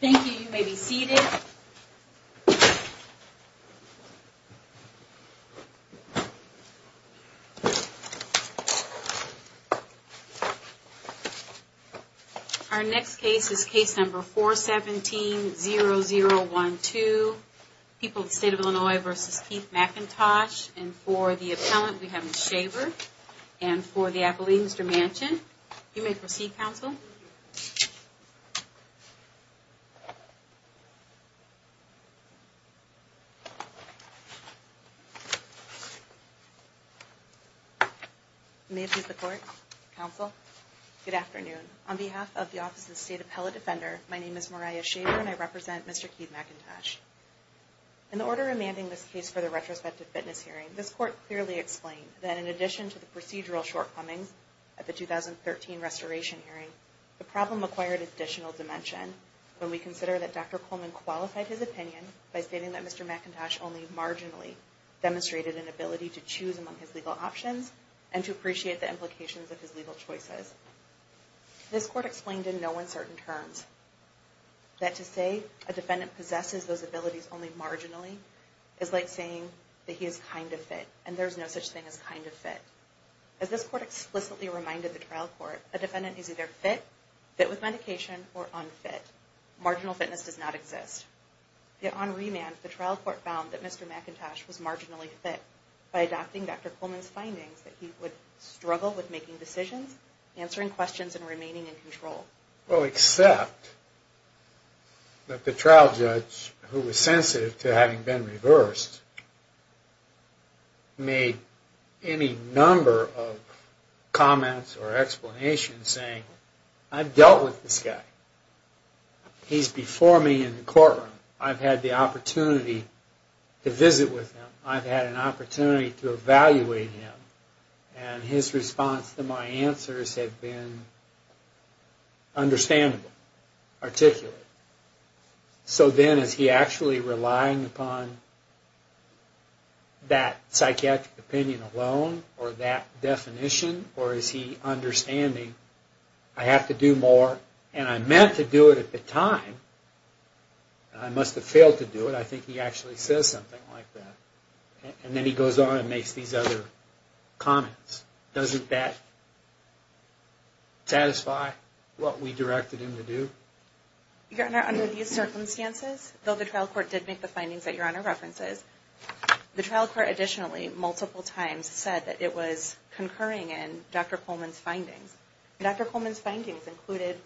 Thank you. You may be seated. Our next case is case number 417-0012. People of the State of Illinois v. Keith McIntosh. And for the appellant, we have Ms. Shaver. And for the appellee, Mr. Manchin. You may proceed, Counsel. May it please the Court, Counsel. Good afternoon. On behalf of the Office of the State Appellate Defender, my name is Moriah Shaver and I represent Mr. Keith McIntosh. In the order amending this case for the retrospective fitness hearing, this Court clearly explained that in addition to the procedural shortcomings at the 2013 restoration hearing, the problem acquired additional dimension when we consider that Dr. Coleman qualified his opinion by stating that Mr. McIntosh only marginally demonstrated an ability to choose among his legal options and to appreciate the implications of his legal choices. This Court explained in no uncertain terms that to say a defendant possesses those abilities only marginally is like saying that he is kind of fit and there is no such thing as kind of fit. As this Court explicitly reminded the trial court, a defendant is either fit, fit with medication, or unfit. Marginal fitness does not exist. Yet on remand, the trial court found that Mr. McIntosh was marginally fit by adopting Dr. Coleman's findings that he would struggle with making decisions answering questions and remaining in control. Well, except that the trial judge who was sensitive to having been reversed made any number of comments or explanations saying, I've dealt with this guy. He's before me in the courtroom. I've had the opportunity to visit with him. I've had an opportunity to evaluate him. And his response to my answers have been understandable, articulate. So then is he actually relying upon that psychiatric opinion alone or that definition or is he understanding I have to do more and I meant to do it at the And then he goes on and makes these other comments. Doesn't that satisfy what we directed him to do? Your Honor, under these circumstances, though the trial court did make the findings that Your Honor references, the trial court additionally multiple times said that it was concurring in Dr. Coleman's findings. Dr. Coleman's findings included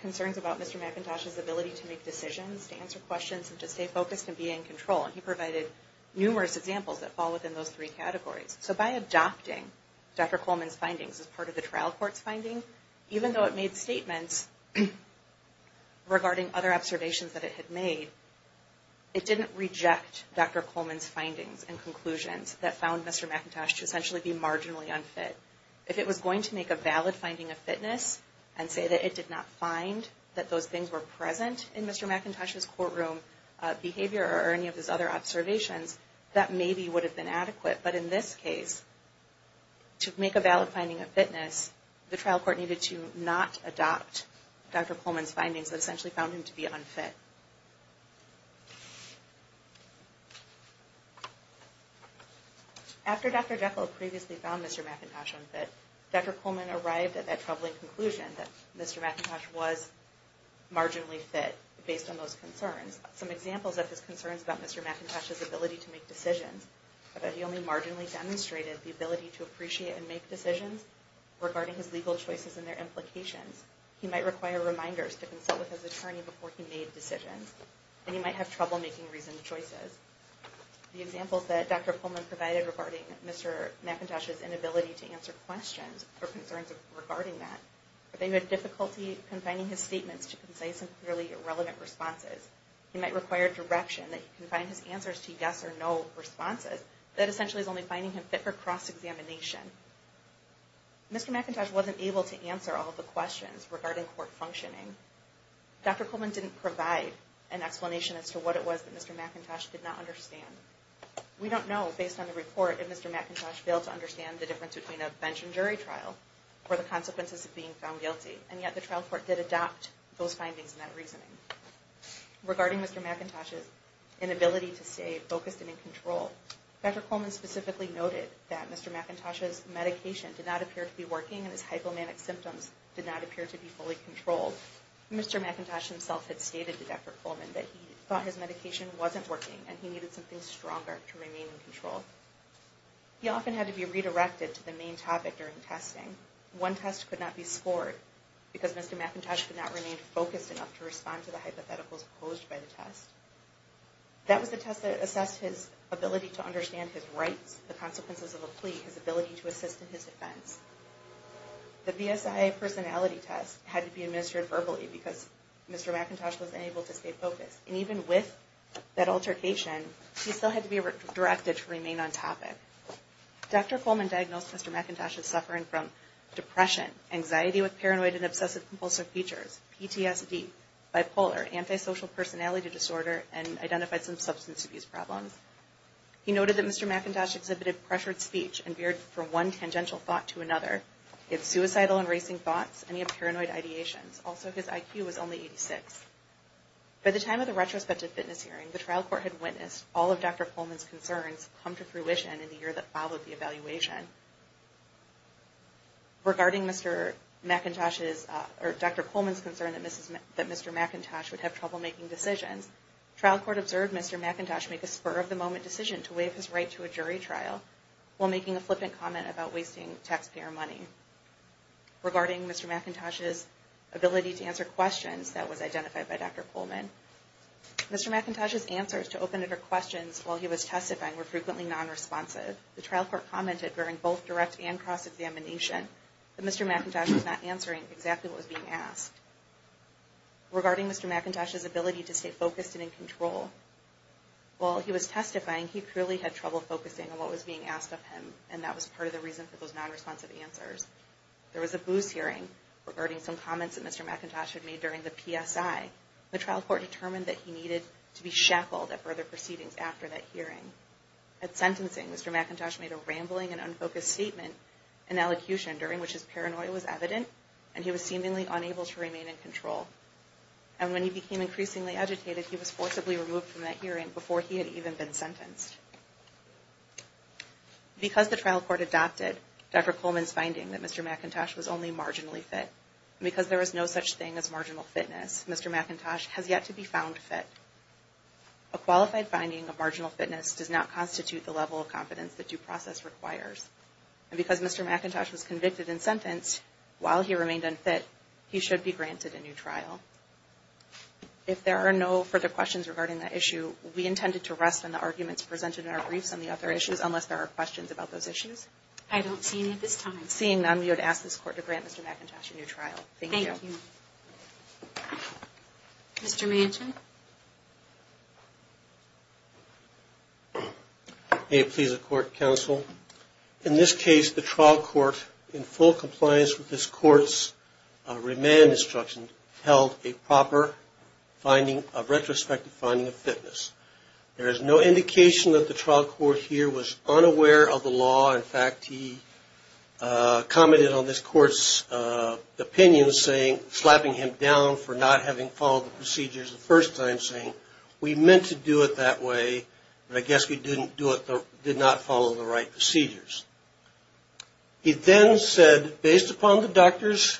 concerns about Mr. McIntosh's ability to make decisions, to answer questions, and to stay focused and be in control. And he provided numerous examples that fall within those three categories. So by adopting Dr. Coleman's findings as part of the trial court's finding, even though it made statements regarding other observations that it had made, it didn't reject Dr. Coleman's findings and conclusions that found Mr. McIntosh to essentially be marginally unfit. If it was going to make a valid finding of fitness and say that it did not find that those things were present in Mr. McIntosh's courtroom behavior or any of his other observations, that maybe would have been adequate. But in this case, to make a valid finding of fitness, the trial court needed to not adopt Dr. Coleman's findings that essentially found him to be unfit. After Dr. Jekyll previously found Mr. McIntosh unfit, Dr. Coleman arrived at that troubling conclusion that Mr. McIntosh was marginally fit based on those concerns. Some examples of his concerns about Mr. McIntosh's ability to make decisions are that he only marginally demonstrated the ability to appreciate and make decisions regarding his legal choices and their implications. He might require reminders to consult with his attorney before he made decisions. And he might have trouble making reasoned choices. The examples that Dr. Coleman provided regarding Mr. McIntosh's inability to answer questions or concerns regarding that are that he had difficulty confining his statements to concise and clearly irrelevant responses. He might require direction that he confine his answers to yes or no responses. That essentially is only finding him fit for cross-examination. Mr. McIntosh wasn't able to answer all the questions regarding court functioning. Dr. Coleman didn't provide an explanation as to what it was that Mr. McIntosh did not understand. We don't know, based on the report, if Mr. McIntosh failed to understand the difference between a bench and jury trial or the consequences of being found guilty. And yet the trial court did adopt those findings and that reasoning. Regarding Mr. McIntosh's inability to stay focused and in control, Dr. Coleman specifically noted that Mr. McIntosh's medication did not appear to be working and his hypomanic symptoms did not appear to be fully controlled. Mr. McIntosh himself had stated to Dr. Coleman that he thought his medication wasn't working and he needed something stronger to remain in control. He often had to be redirected to the main topic during testing. One test could not be scored because Mr. McIntosh could not remain focused enough to respond to the hypotheticals posed by the test. That was the test that assessed his ability to understand his rights, the consequences of a plea, his ability to assist in his defense. The BSI personality test had to be administered verbally because Mr. McIntosh was unable to stay focused. And even with that altercation, he still had to be directed to remain on topic. Dr. Coleman diagnosed Mr. McIntosh as suffering from depression, anxiety with paranoid and obsessive compulsive features, PTSD, bipolar, antisocial personality disorder, and identified some substance abuse problems. He noted that Mr. McIntosh exhibited pressured speech and veered from one tangential thought to another. He had suicidal and racing thoughts and he had paranoid ideations. Also, his IQ was only 86. All of Dr. Coleman's concerns come to fruition in the year that followed the evaluation. Regarding Dr. Coleman's concern that Mr. McIntosh would have trouble making decisions, trial court observed Mr. McIntosh make a spur-of-the-moment decision to waive his right to a jury trial while making a flippant comment about wasting taxpayer money. Regarding Mr. McIntosh's ability to answer questions that was identified by Dr. Coleman, Mr. McIntosh's answers to open-ended questions while he was testifying were frequently non-responsive. The trial court commented during both direct and cross-examination that Mr. McIntosh was not answering exactly what was being asked. Regarding Mr. McIntosh's ability to stay focused and in control, while he was testifying, he clearly had trouble focusing on what was being asked of him and that was part of the reason for those non-responsive answers. There was a booze hearing regarding some comments that Mr. McIntosh had made during the PSI. The trial court determined that he needed to be shackled at further proceedings after that hearing. At sentencing, Mr. McIntosh made a rambling and unfocused statement in elocution during which his paranoia was evident and he was seemingly unable to remain in control. And when he became increasingly agitated, he was forcibly removed from that hearing before he had even been sentenced. Because the trial court adopted Dr. Coleman's finding that Mr. McIntosh was only marginally fit, and because there was no such thing as marginal fitness, Mr. McIntosh has yet to be found fit. A qualified finding of marginal fitness does not constitute the level of confidence the due process requires. And because Mr. McIntosh was convicted and sentenced, while he remained unfit, he should be granted a new trial. If there are no further questions regarding that issue, will we intend to rest on the arguments presented in our briefs on the other issues unless there are questions about those issues? I don't see any at this time. Seeing none, we would ask this Court to grant Mr. McIntosh a new trial. Thank you. Mr. Manchin. May it please the Court, Counsel. In this case, the trial court, in full compliance with this Court's remand instruction, held a proper finding, a retrospective finding of fitness. There is no indication that the trial court here was unaware of the law. In fact, he commented on this Court's opinion, slapping him down for not having followed the procedures the first time, saying, we meant to do it that way, but I guess we did not follow the right procedures. He then said, based upon the doctor's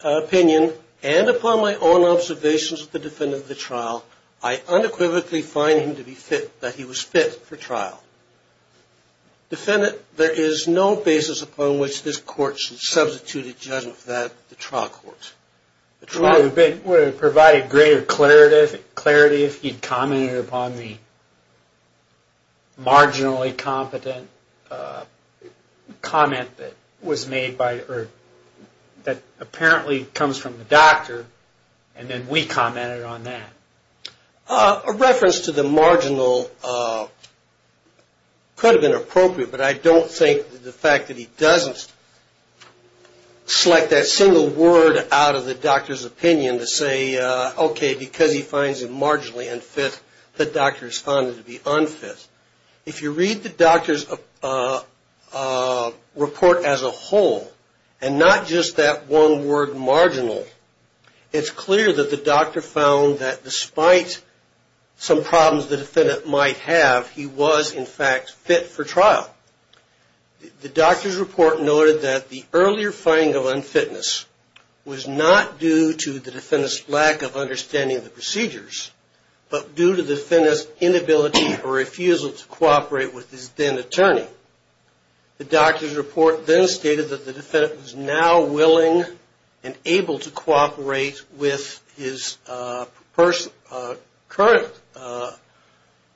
opinion and upon my own observations of the defendant of the trial, I unequivocally find him to be fit, that he was fit for trial. Defendant, there is no basis upon which this Court should substitute a judgment for that of the trial court. Well, it would have provided greater clarity if he had commented upon the marginally competent comment that was made by, or that apparently comes from the doctor, and then we commented on that. A reference to the marginal could have been appropriate, but I don't think the fact that he doesn't select that single word out of the doctor's opinion to say, okay, because he finds it marginally unfit, the doctor responded to be unfit. If you read the doctor's report as a whole, and not just that one word, marginal, it's clear that the doctor found that despite some problems the defendant might have, he was in fact fit for trial. The doctor's report noted that the earlier finding of unfitness was not due to the defendant's lack of understanding the procedures, but due to the defendant's inability or refusal to cooperate with his then attorney. The doctor's report then stated that the defendant was now willing and able to cooperate with his current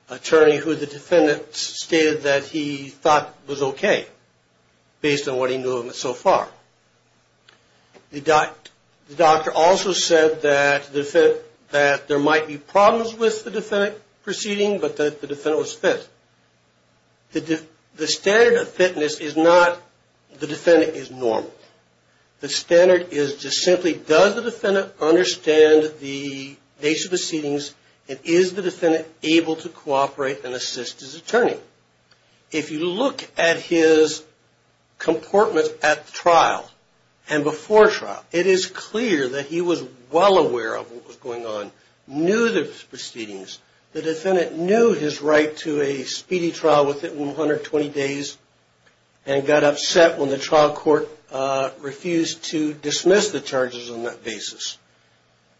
attorney, who the defendant stated that he thought was okay, based on what he knew of him so far. The doctor also said that there might be problems with the defendant proceeding, but that the defendant was fit. The standard of fitness is not the defendant is normal. The standard is just simply does the defendant understand the basic proceedings, and is the defendant able to cooperate and assist his attorney? If you look at his comportment at trial and before trial, it is clear that he was well aware of what was going on, knew the proceedings, the defendant knew his right to a speedy trial within 120 days, and got upset when the trial court refused to dismiss the charges on that basis.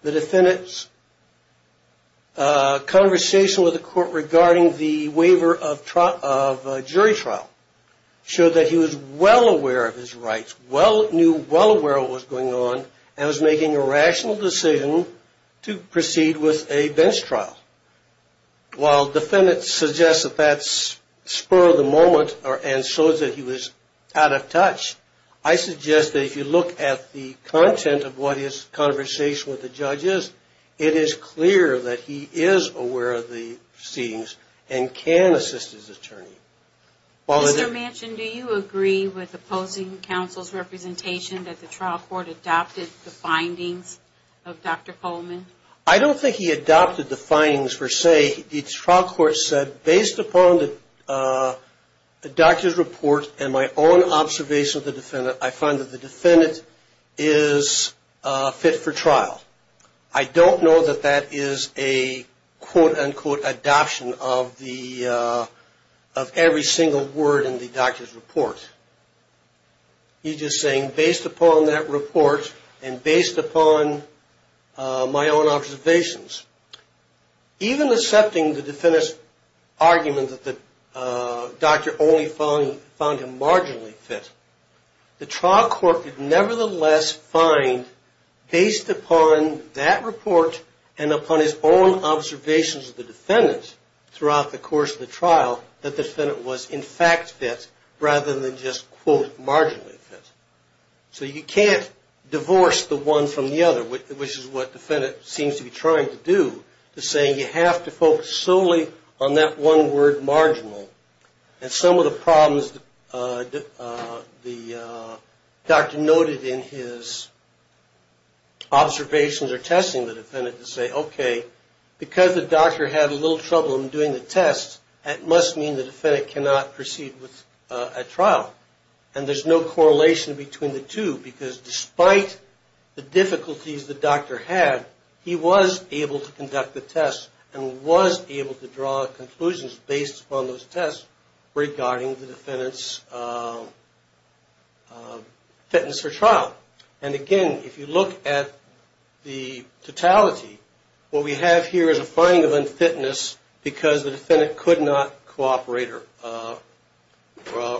The defendant's conversation with the court regarding the waiver of jury trial showed that he was well aware of his rights, well aware of what was going on, and was making a rational decision to proceed with a bench trial. While the defendant suggests that that spurred the moment and showed that he was out of touch, I suggest that if you look at the content of what his conversation with the judge is, it is clear that he is aware of the proceedings and can assist his attorney. Mr. Manchin, do you agree with opposing counsel's representation that the trial court adopted the findings of Dr. Coleman? I don't think he adopted the findings per se. The trial court said, based upon the doctor's report and my own observation of the defendant, I find that the defendant is fit for trial. I don't know that that is a quote-unquote adoption of every single word in the doctor's report. He's just saying, based upon that report and based upon my own observations. Even accepting the defendant's argument that the doctor only found him marginally fit, the trial court could nevertheless find, based upon that report and upon his own observations of the defendant, throughout the course of the trial, that the defendant was in fact fit, rather than just, quote, marginally fit. So you can't divorce the one from the other, which is what the defendant seems to be trying to do, to say you have to focus solely on that one word, marginal. And some of the problems the doctor noted in his observations or testing the defendant to say, okay, because the doctor had a little trouble in doing the test, that must mean the defendant cannot proceed with a trial. And there's no correlation between the two, because despite the difficulties the doctor had, he was able to conduct the test and was able to draw conclusions based upon those tests, regarding the defendant's fitness for trial. And again, if you look at the totality, what we have here is a finding of unfitness, because the defendant could not cooperate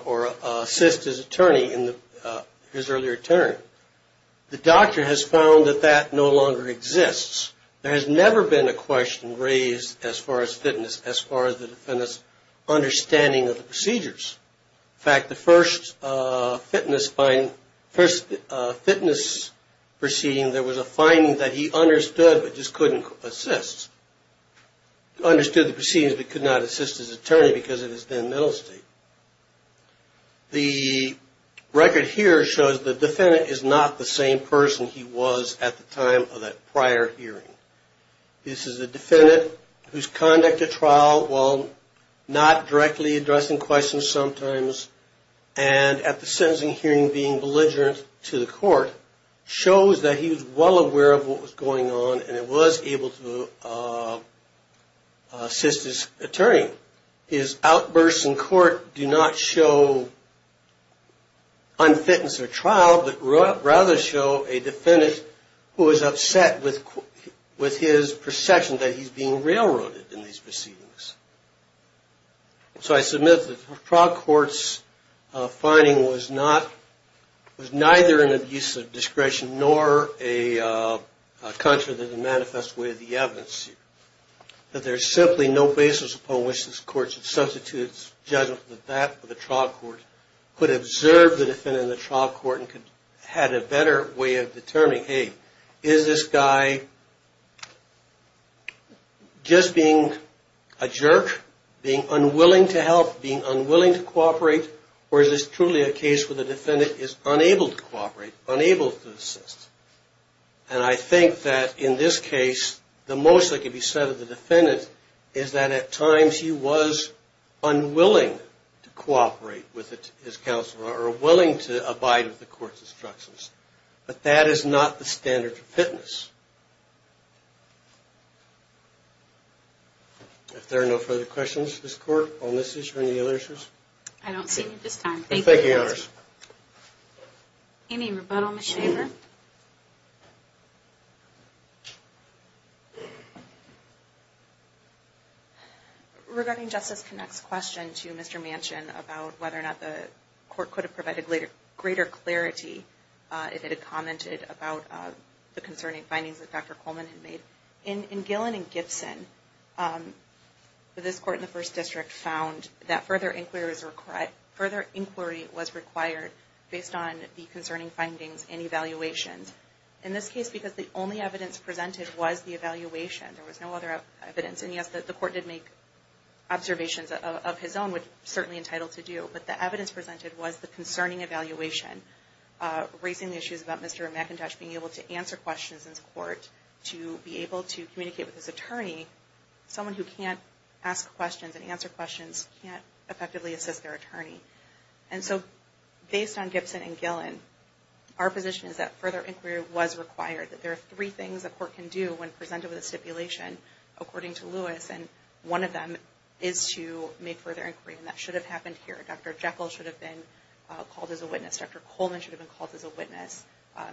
or assist his attorney, his earlier attorney. The doctor has found that that no longer exists. There has never been a question raised as far as fitness, as far as the defendant's understanding of the procedures. In fact, the first fitness proceeding, there was a finding that he understood, but just couldn't assist. He understood the proceedings, but could not assist his attorney because of his then middle state. The record here shows the defendant is not the same person he was at the time of that prior hearing. This is a defendant whose conduct at trial, while not directly addressing questions sometimes, and at the sentencing hearing being belligerent to the court, shows that he was well aware of what was going on, and was able to assist his attorney. His outbursts in court do not show unfitness or trial, but rather show a defendant who is upset with his perception that he's being railroaded in these proceedings. So I submit that the trial court's finding was neither an abuse of discretion, nor a contrary to the manifest way of the evidence. That there's simply no basis upon which this court should substitute its judgment that that trial court could observe the defendant in the trial court and had a better way of determining, hey, is this guy just being a jerk, being unwilling to help, being unwilling to cooperate, or is this truly a case where the defendant is unable to cooperate, unable to assist? And I think that in this case, the most that could be said of the defendant is that at times, he was unwilling to cooperate with his counsel, or willing to abide with the court's instructions. But that is not the standard of fitness. If there are no further questions of this court on this issue or any other issues. I don't see any at this time. Any rebuttal, Ms. Shaver? Regarding Justice Connacht's question to Mr. Manchin about whether or not the court could have provided greater clarity if it had commented about the concerning findings that Dr. Coleman had made, in Gillen and Gibson, this court in the First District found that further inquiry was required based on the concerning findings and evaluations. In this case, because the only evidence presented was the evaluation, there was no other evidence. And yes, the court did make observations of his own, which we're certainly entitled to do. But the evidence presented was the concerning evaluation, raising issues about Mr. McIntosh being able to answer questions in court, to be able to communicate with his attorney. Someone who can't ask questions and answer questions can't effectively assist their attorney. And so, based on Gibson and Gillen, our position is that further inquiry was required. That there are three things a court can do when presented with a stipulation, according to Lewis, and one of them is to make further inquiry. And that should have happened here. Dr. Jekyll should have been called as a witness. Dr. Coleman should have been called as a witness.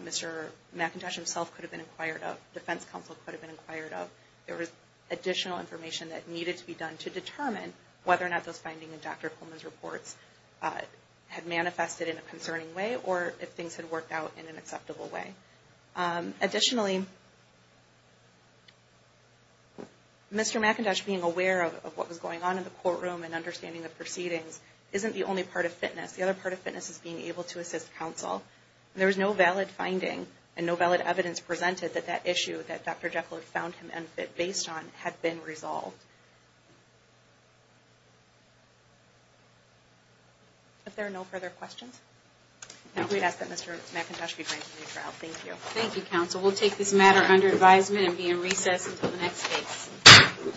Mr. McIntosh himself could have been inquired of. Defense counsel could have been inquired of. There was additional information that needed to be done to determine whether or not those findings in Dr. Coleman's reports had manifested in a concerning way, or if things had worked out in an acceptable way. Additionally, Mr. McIntosh being aware of what was going on in the courtroom and understanding the proceedings isn't the only part of fitness. The other part of fitness is being able to assist counsel. There was no valid finding and no valid evidence presented that that issue that Dr. Jekyll had found him unfit based on had been resolved. If there are no further questions? We ask that Mr. McIntosh be granted a new trial. Thank you.